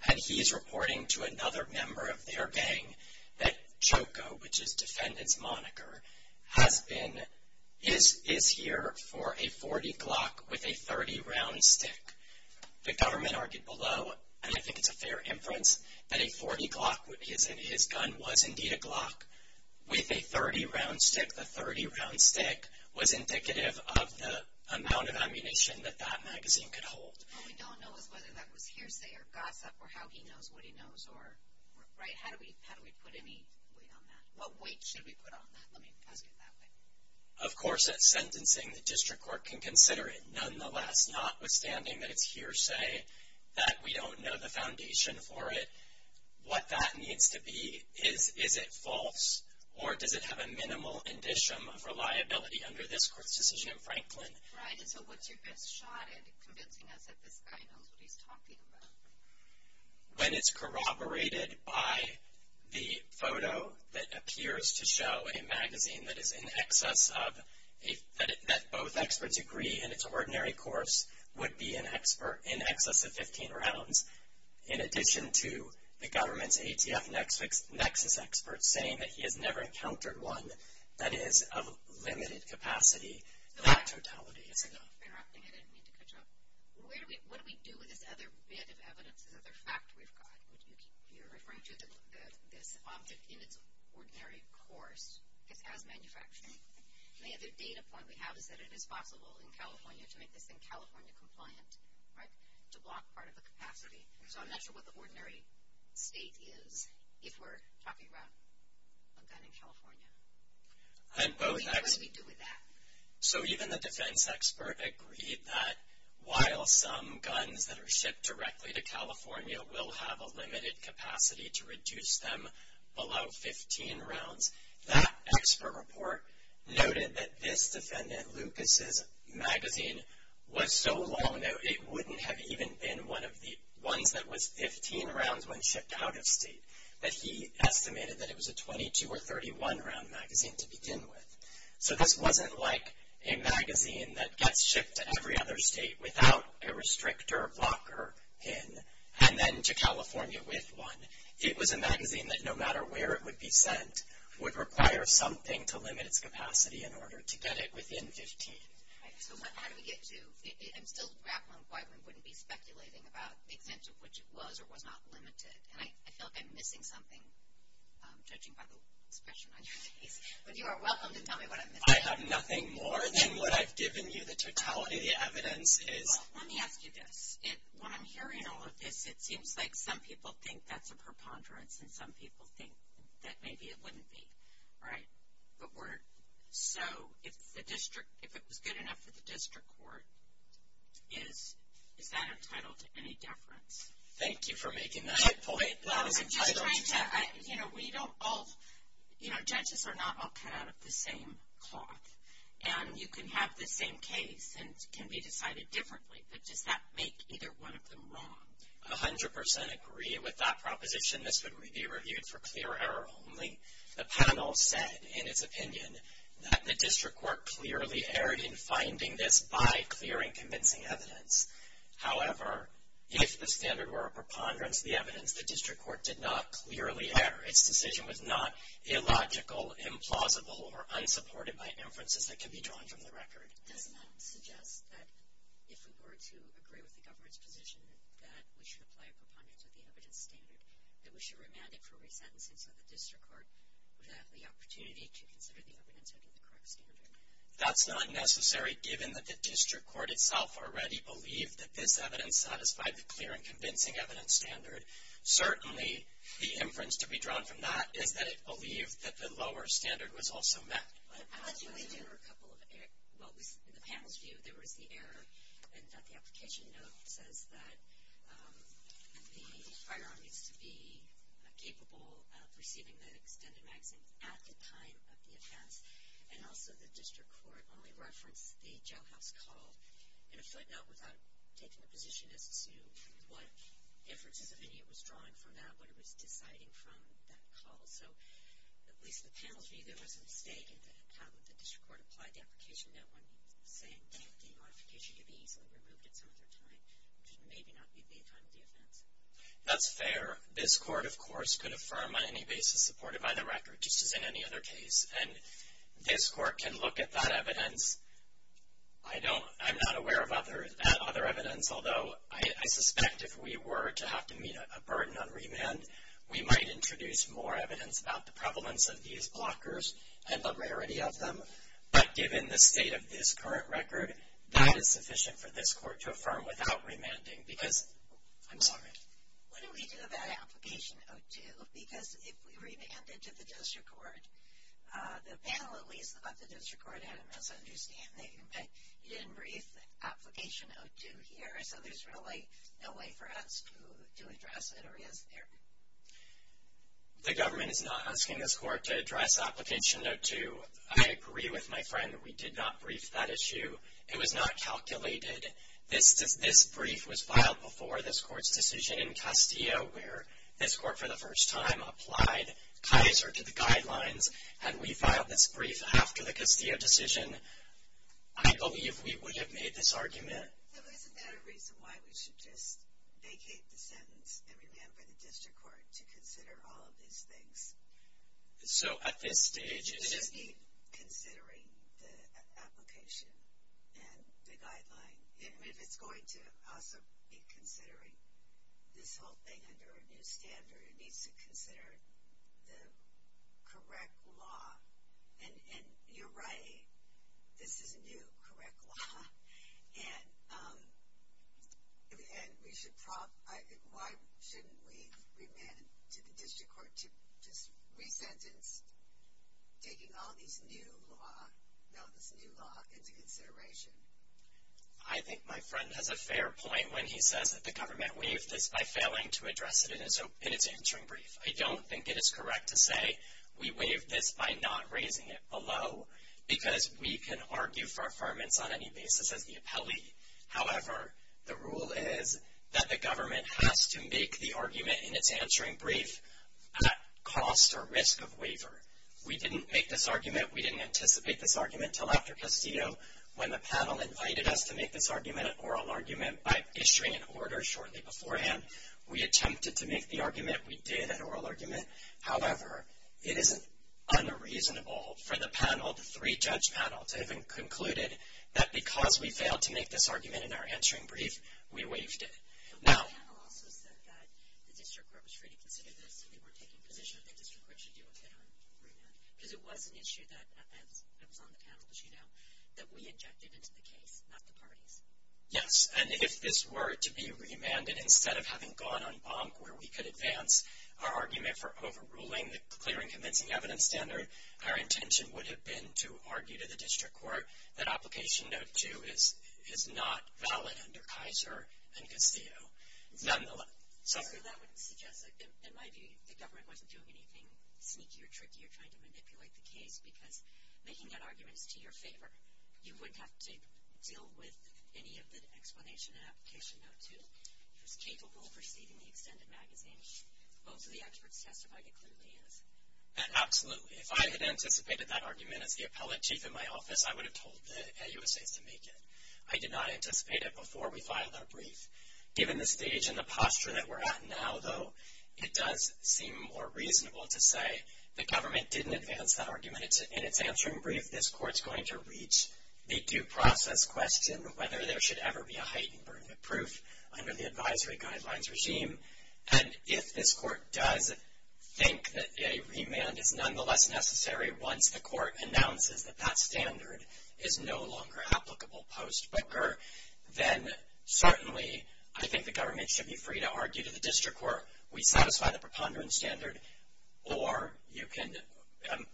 And he is reporting to another member of their gang that Choco, which is defendant's moniker, is here for a 40-glock with a 30-round stick. The government argued below, and I think it's a fair inference, that a 40-glock with his gun was indeed a glock with a 30-round stick. The 30-round stick was indicative of the amount of ammunition that that magazine could hold. What we don't know is whether that was hearsay or gossip or how he knows what he knows, right? How do we put any weight on that? What weight should we put on that? Let me ask it that way. Of course, at sentencing, the district court can consider it. Nonetheless, notwithstanding that it's hearsay, that we don't know the foundation for it, what that needs to be is, is it false, or does it have a minimal indicium of reliability under this court's decision in Franklin? Right. And so what's your best shot at convincing us that this guy knows what he's talking about? When it's corroborated by the photo that appears to show a magazine that is in excess of, that both experts agree in its ordinary course would be in excess of 15 rounds, in addition to the government's ATF nexus experts saying that he has never encountered one that is of limited capacity, that totality is enough. I'm just interrupting. I didn't mean to cut you off. What do we do with this other bit of evidence, this other fact we've got? You're referring to this object in its ordinary course. It's as manufactured. And the other data point we have is that it is possible in California to make this thing California compliant, right, to block part of the capacity. So I'm not sure what the ordinary state is if we're talking about a gun in California. What do we do with that? So even the defense expert agreed that while some guns that are shipped directly to California will have a limited capacity to reduce them below 15 rounds, that expert report noted that this defendant, Lucas' magazine, was so long, it wouldn't have even been one of the ones that was 15 rounds when shipped out of state, that he estimated that it was a 22- or 31-round magazine to begin with. So this wasn't like a magazine that gets shipped to every other state without a restrictor or blocker in, and then to California with one. It was a magazine that, no matter where it would be sent, would require something to limit its capacity in order to get it within 15. So how do we get to, I'm still grappling with why one wouldn't be speculating about the extent of which it was or was not limited, and I feel like I'm missing something, judging by the expression on your face. But you are welcome to tell me what I'm missing. I have nothing more than what I've given you. The totality of the evidence is. Well, let me ask you this. When I'm hearing all of this, it seems like some people think that's a preponderance, and some people think that maybe it wouldn't be, right? So if it was good enough for the district court, is that entitled to any deference? Thank you for making that point. I'm just trying to, you know, we don't all, you know, judges are not all cut out of the same cloth, and you can have the same case and it can be decided differently, but does that make either one of them wrong? I 100% agree with that proposition. This would be reviewed for clear error only. The panel said in its opinion that the district court clearly erred in finding this by clearing convincing evidence. However, if the standard were a preponderance of the evidence, the district court did not clearly err. Its decision was not illogical, implausible, or unsupported by inferences that can be drawn from the record. Doesn't that suggest that if we were to agree with the government's position that we should apply a preponderance of the evidence standard, that we should remand it for resentencing so the district court would have the opportunity to consider the evidence under the correct standard? That's not necessary, given that the district court itself already believed that this evidence satisfied the clear and convincing evidence standard. Certainly, the inference to be drawn from that is that it believed that the lower standard was also met. In the panel's view, there was the error in that the application note says that the firearm needs to be capable of receiving the extended magazine at the time of the offense, and also the district court only referenced the jailhouse call in a footnote without taking a position as to what inferences of any it was drawing from that, what it was deciding from that call. So, at least the panel's view, there was a mistake in how the district court applied the application note when saying that the modification could be easily removed at some other time, which may not be the time of the offense. That's fair. This court, of course, could affirm on any basis supported by the record, just as in any other case, and this court can look at that evidence. I'm not aware of other evidence, although I suspect if we were to have to meet a burden on remand, we might introduce more evidence about the prevalence of these blockers and the rarity of them. But given the state of this current record, that is sufficient for this court to affirm without remanding. I'm sorry. What did we do about application 02? Because if we remanded to the district court, the panel, at least, thought the district court had a misunderstanding. You didn't brief application 02 here, so there's really no way for us to address it, or is there? The government is not asking this court to address application 02. I agree with my friend that we did not brief that issue. It was not calculated. This brief was filed before this court's decision in Castillo, where this court, for the first time, applied Kaiser to the guidelines, and we filed this brief after the Castillo decision. I believe we would have made this argument. So isn't that a reason why we should just vacate the sentence and remand by the district court to consider all of these things? So at this stage, it is needed. We just need considering the application and the guideline. I mean, if it's going to also be considering this whole thing under a new standard, it needs to consider the correct law. And you're right. This is a new correct law. And why shouldn't we remand to the district court to just resentence, taking all this new law into consideration? I think my friend has a fair point when he says that the government waived this by failing to address it in its answering brief. I don't think it is correct to say we waived this by not raising it below, because we can argue for affirmance on any basis as the appellee. However, the rule is that the government has to make the argument in its answering brief at cost or risk of waiver. We didn't make this argument. We didn't anticipate this argument until after Castillo, when the panel invited us to make this argument, an oral argument, by issuing an order shortly beforehand. We attempted to make the argument. We did an oral argument. However, it is unreasonable for the panel, the three-judge panel, to have concluded that because we failed to make this argument in our answering brief, we waived it. Now the panel also said that the district court was free to consider this and they weren't taking position that the district court should do a fair remand, because it was an issue that was on the panel, as you know, that we injected into the case, not the parties. Yes, and if this were to be remanded, instead of having gone on bonk, where we could advance our argument for overruling the clear and convincing evidence standard, our intention would have been to argue to the district court that application note 2 is not valid under Kaiser and Castillo. Nonetheless, so. So that would suggest, in my view, the government wasn't doing anything sneaky or tricky or trying to manipulate the case because making that argument is to your favor. You wouldn't have to deal with any of the explanation in application note 2. It was capable of receiving the extended magazine. Both of the experts testified it clearly is. Absolutely. If I had anticipated that argument as the appellate chief in my office, I would have told the AUSAs to make it. I did not anticipate it before we filed our brief. Given the stage and the posture that we're at now, though, it does seem more reasonable to say the government didn't advance that argument. In its answering brief, this court's going to reach the due process question of whether there should ever be a heightened burden of proof under the advisory guidelines regime. And if this court does think that a remand is nonetheless necessary once the court announces that that standard is no longer applicable post-Booker, then certainly I think the government should be free to argue to the district court whether we satisfy the preponderance standard or you can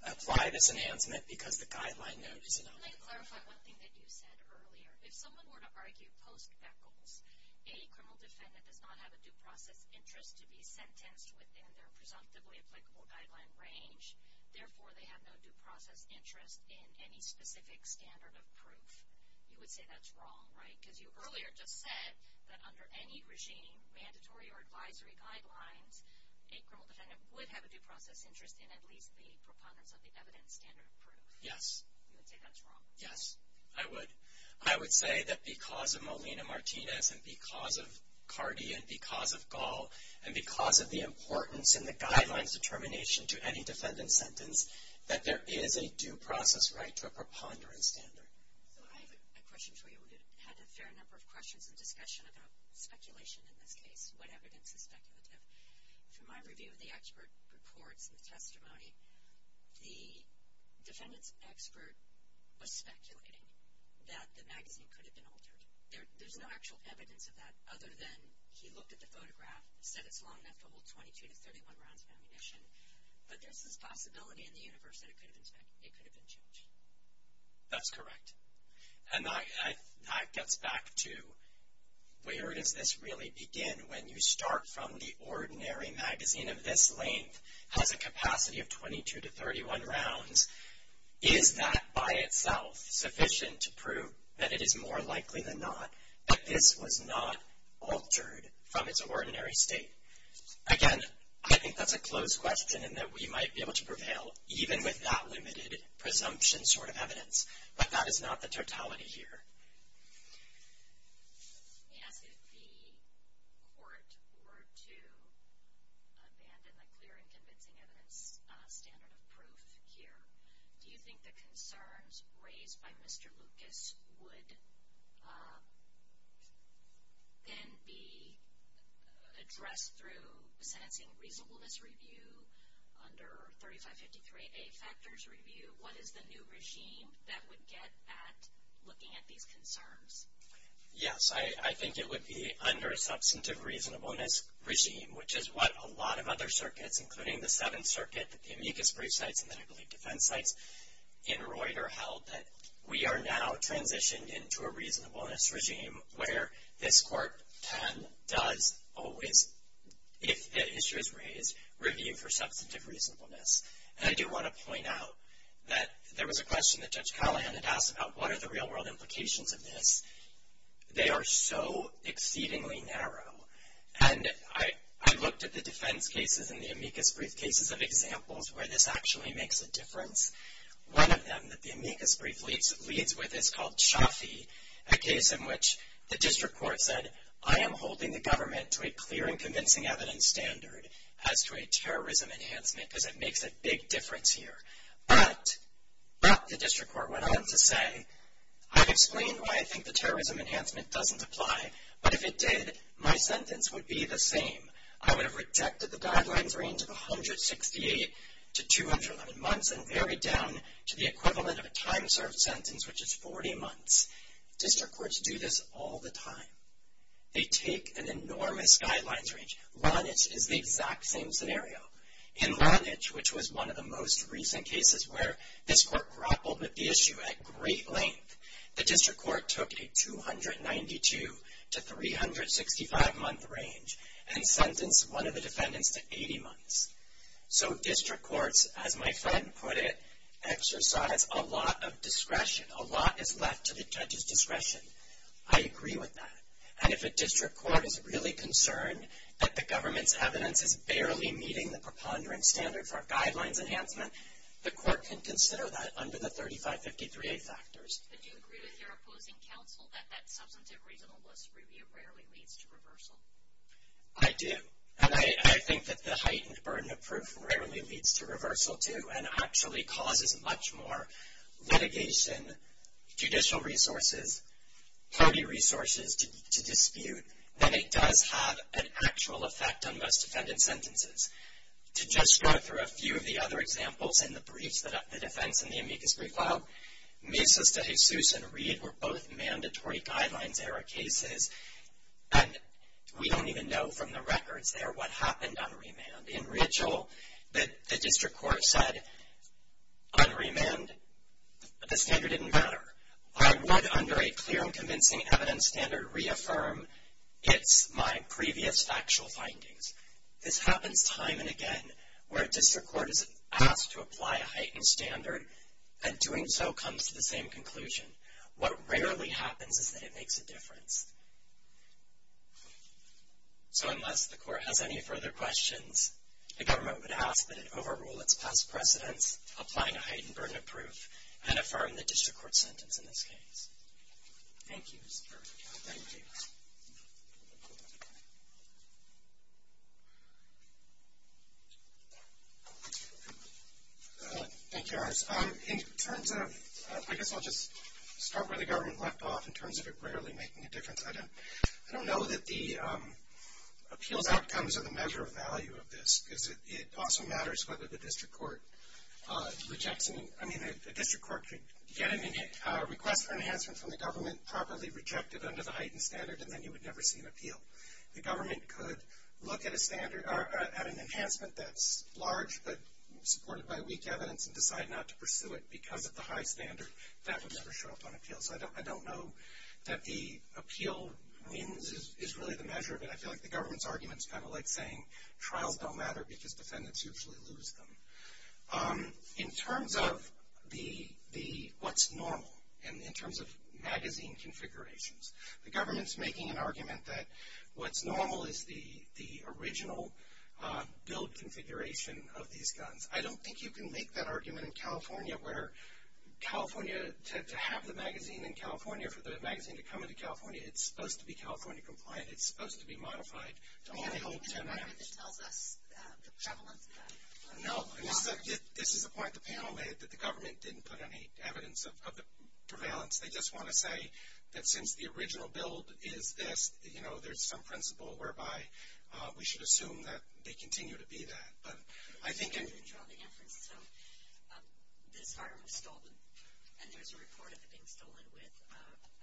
apply this enhancement because the guideline note is enough. Can I clarify one thing that you said earlier? If someone were to argue post-Beckels, a criminal defendant does not have a due process interest to be sentenced within their presumptively applicable guideline range. Therefore, they have no due process interest in any specific standard of proof. You would say that's wrong, right? Because you earlier just said that under any regime, mandatory or advisory guidelines, a criminal defendant would have a due process interest in at least the preponderance of the evidence standard of proof. Yes. You would say that's wrong. Yes, I would. I would say that because of Molina-Martinez and because of Cardi and because of Gall and because of the importance in the guidelines determination to any defendant sentence that there is a due process right to a preponderance standard. I have a question for you. We've had a fair number of questions and discussion about speculation in this case, what evidence is speculative. From my review of the expert reports and the testimony, the defendant's expert was speculating that the magazine could have been altered. There's no actual evidence of that other than he looked at the photograph, said it's long enough to hold 22 to 31 rounds of ammunition, but there's this possibility in the universe that it could have been changed. That's correct. And that gets back to where does this really begin when you start from the ordinary magazine of this length has a capacity of 22 to 31 rounds, is that by itself sufficient to prove that it is more likely than not that this was not altered from its ordinary state? Again, I think that's a close question and that we might be able to prevail even with that limited presumption sort of evidence, but that is not the totality here. Let me ask if the court were to abandon the clear and convincing evidence standard of proof here, do you think the concerns raised by Mr. Lucas would then be addressed through sentencing reasonableness review under 3553A factors review? What is the new regime that would get at looking at these concerns? Yes, I think it would be under a substantive reasonableness regime, which is what a lot of other circuits, including the Seventh Circuit, the amicus brief sites, and then I believe defense sites in Reuter held, that we are now transitioned into a reasonableness regime where this court then does always, if the issue is raised, review for substantive reasonableness. And I do want to point out that there was a question that Judge Callahan had asked about what are the real-world implications of this. They are so exceedingly narrow. And I looked at the defense cases and the amicus brief cases of examples where this actually makes a difference. One of them that the amicus brief leads with is called Shafi, a case in which the district court said, I am holding the government to a clear and convincing evidence standard as to a terrorism enhancement because it makes a big difference here. But the district court went on to say, I've explained why I think the terrorism enhancement doesn't apply, but if it did, my sentence would be the same. I would have rejected the guidelines range of 168 to 211 months and varied down to the equivalent of a time-served sentence, which is 40 months. District courts do this all the time. They take an enormous guidelines range. Lanage is the exact same scenario. In Lanage, which was one of the most recent cases where this court grappled with the issue at great length, the district court took a 292 to 365-month range and sentenced one of the defendants to 80 months. So district courts, as my friend put it, exercise a lot of discretion. A lot is left to the judge's discretion. I agree with that. And if a district court is really concerned that the government's evidence is barely meeting the preponderance standard for a guidelines enhancement, the court can consider that under the 3553A factors. But do you agree with your opposing counsel that that substantive reasonableness review rarely leads to reversal? I do. And I think that the heightened burden of proof rarely leads to reversal, too, and actually causes much more litigation, judicial resources, party resources to dispute, than it does have an actual effect on most defendant sentences. To just go through a few of the other examples in the briefs, the defense and the amicus brief file, Mises de Jesus and Reed were both mandatory guidelines-era cases, and we don't even know from the records there what happened on remand. In ritual, the district court said, on remand, the standard didn't matter. I would, under a clear and convincing evidence standard, reaffirm it's my previous factual findings. This happens time and again where a district court is asked to apply a heightened standard, and doing so comes to the same conclusion. What rarely happens is that it makes a difference. So unless the court has any further questions, the government would ask that it overrule its past precedents, applying a heightened burden of proof, and affirm the district court sentence in this case. Thank you, Mr. Kirk. Thank you. Thank you, Iris. In terms of, I guess I'll just start where the government left off, in terms of it rarely making a difference, I don't know that the appeals outcomes are the measure of value of this, because it also matters whether the district court rejects, I mean a district court could get a request for enhancement from the government, properly reject it under the heightened standard, and then you would never see an appeal. The government could look at an enhancement that's large, but supported by weak evidence and decide not to pursue it because of the high standard. That would never show up on appeals. I don't know that the appeal wins is really the measure of it. I feel like the government's argument is kind of like saying trials don't matter because defendants usually lose them. In terms of what's normal, and in terms of magazine configurations, the government's making an argument that what's normal is the original billed configuration of these guns. I don't think you can make that argument in California, where California, to have the magazine in California, for the magazine to come into California, it's supposed to be California compliant. It's supposed to be modified to only hold 10 rounds. I don't think there's an argument that tells us the prevalence of that. No, and this is the point the panel made, that the government didn't put any evidence of the prevalence. They just want to say that since the original billed is this, there's some principle whereby we should assume that they continue to be that. You didn't draw the inference, so this firearm was stolen, and there's a report of it being stolen with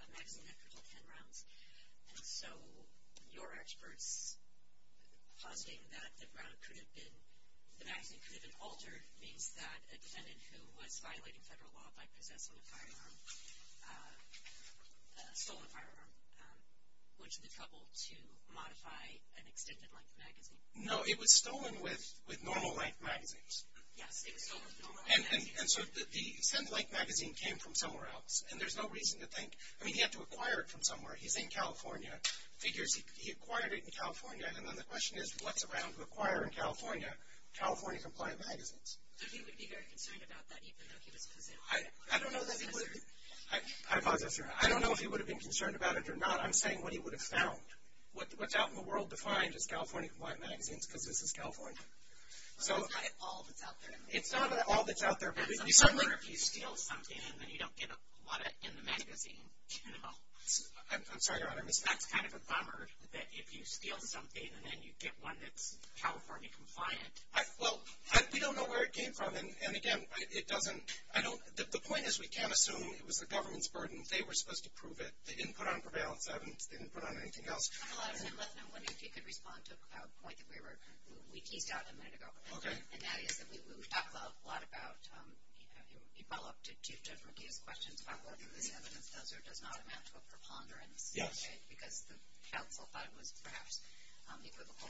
a magazine that could hold 10 rounds. And so your experts positing that the magazine could have been altered means that a defendant who was violating federal law by possessing a firearm stole a firearm, which led to the trouble to modify an extended length magazine. No, it was stolen with normal length magazines. Yes, it was stolen with normal length magazines. And so the extended length magazine came from somewhere else, and there's no reason to think, I mean he had to acquire it from somewhere. He's in California. Figures he acquired it in California, and then the question is what's around to acquire in California California compliant magazines? So he would be very concerned about that even though he was possessing it? I don't know if he would have been concerned about it or not. I'm saying what he would have found. What's out in the world to find is California compliant magazines because this is California. So it's not all that's out there. It's not all that's out there. I wonder if you steal something and then you don't get a lot in the magazine. I'm sorry, Your Honor. That's kind of a bummer that if you steal something and then you get one that's California compliant. Well, we don't know where it came from. And, again, the point is we can't assume it was the government's burden. They were supposed to prove it. They didn't put on prevalence evidence. They didn't put on anything else. Dr. Latham, I'm wondering if you could respond to a point that we teased out a minute ago. Okay. And that is that we talked a lot about, in follow-up to Judge McGee's questions, about whether this evidence does or does not amount to a preponderance. Yes. Because the counsel thought it was perhaps equivocal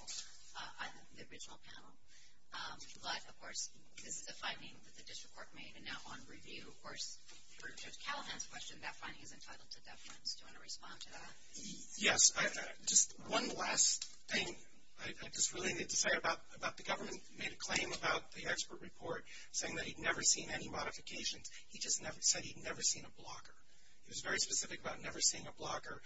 on the original panel. But, of course, this is a finding that the district court made, and now on review, of course, for Judge Callahan's question, that finding is entitled to deference. Do you want to respond to that? Yes. Just one last thing I just really need to say about the government made a claim about the expert report saying that he'd never seen any modifications. He just said he'd never seen a blocker. He was very specific about never seeing a blocker.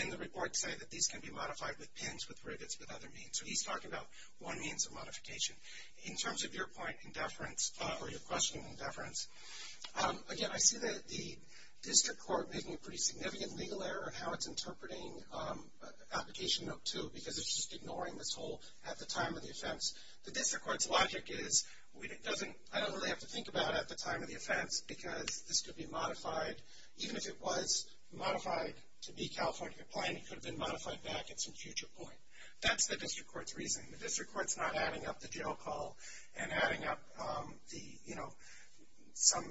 And the report said that these can be modified with pins, with rivets, with other means. So he's talking about one means of modification. In terms of your point in deference, or your question in deference, again, I see that the district court made a pretty significant legal error in how it's interpreting application note 2 because it's just ignoring this whole at the time of the offense. The district court's logic is, I don't really have to think about it at the time of the offense because this could be modified. Even if it was modified to be California compliant, it could have been modified back at some future point. That's the district court's reasoning. The district court's not adding up the jail call and adding up the, you know, some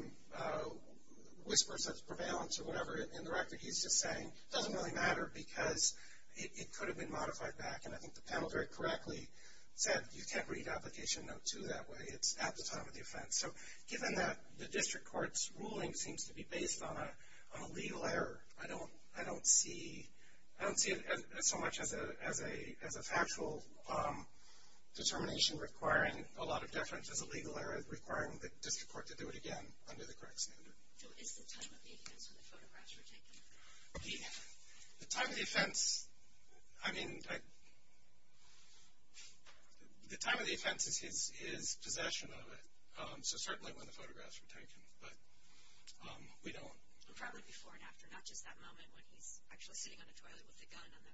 whispers of prevalence or whatever in the record. He's just saying it doesn't really matter because it could have been modified back. And I think the panel very correctly said you can't read application note 2 that way. It's at the time of the offense. So given that the district court's ruling seems to be based on a legal error, I don't see it so much as a factual determination requiring a lot of deference as a legal error, requiring the district court to do it again under the correct standard. So it's the time of the offense when the photographs were taken? The time of the offense, I mean, the time of the offense is possession of it, so certainly when the photographs were taken, but we don't. Probably before and after, not just that moment when he's actually sitting on a toilet with a gun on the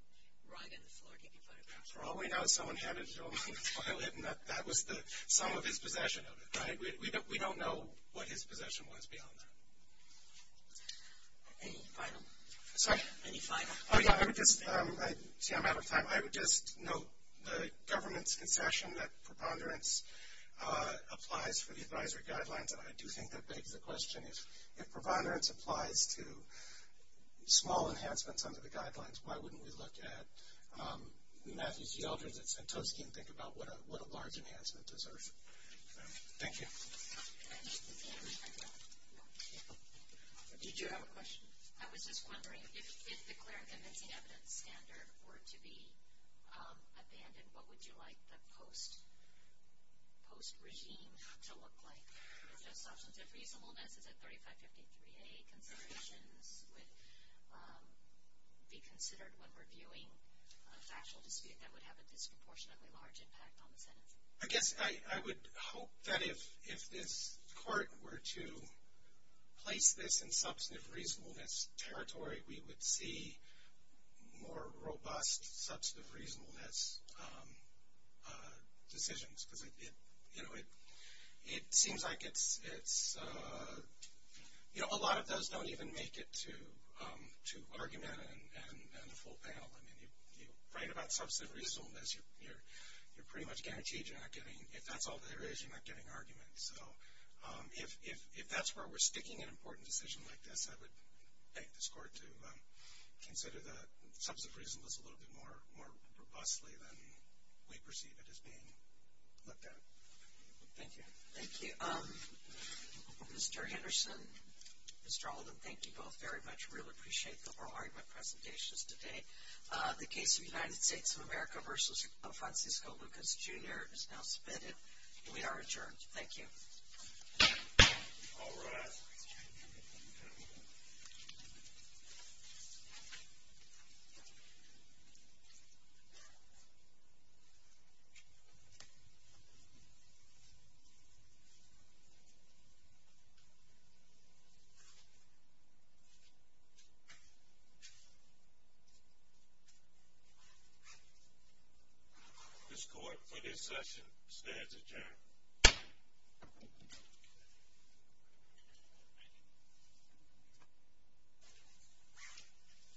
rug and the floor taking photographs. Probably not. Someone had a gun on the toilet, and that was some of his possession of it, right? We don't know what his possession was beyond that. Any final? Sorry? Any final? Oh, yeah. See, I'm out of time. I would just note the government's concession that preponderance applies for the advisory guidelines, and I do think that begs the question, if preponderance applies to small enhancements under the guidelines, why wouldn't we look at Matthew C. Eldridge and Santoski and think about what a large enhancement deserves? Thank you. Did you have a question? I was just wondering, if declaring a missing evidence standard were to be abandoned, what would you like the post-regime to look like? Is that substantive reasonableness? Is it 3553A considerations would be considered when reviewing a factual dispute that would have a disproportionately large impact on the Senate? I guess I would hope that if this court were to place this in substantive reasonableness territory, we would see more robust substantive reasonableness decisions, because, you know, it seems like a lot of those don't even make it to argument and a full panel. I mean, you write about substantive reasonableness, you're pretty much guaranteed you're not getting, if that's all there is, you're not getting arguments. So if that's where we're sticking an important decision like this, I would beg this court to consider the substantive reasonableness a little bit more robustly than we perceive it as being looked at. Thank you. Thank you. Mr. Henderson, Mr. Alden, thank you both very much. I really appreciate the oral argument presentations today. The case of United States of America v. Francisco Lucas, Jr. is now submitted, and we are adjourned. Thank you. All rise. This court, for this session, stands adjourned.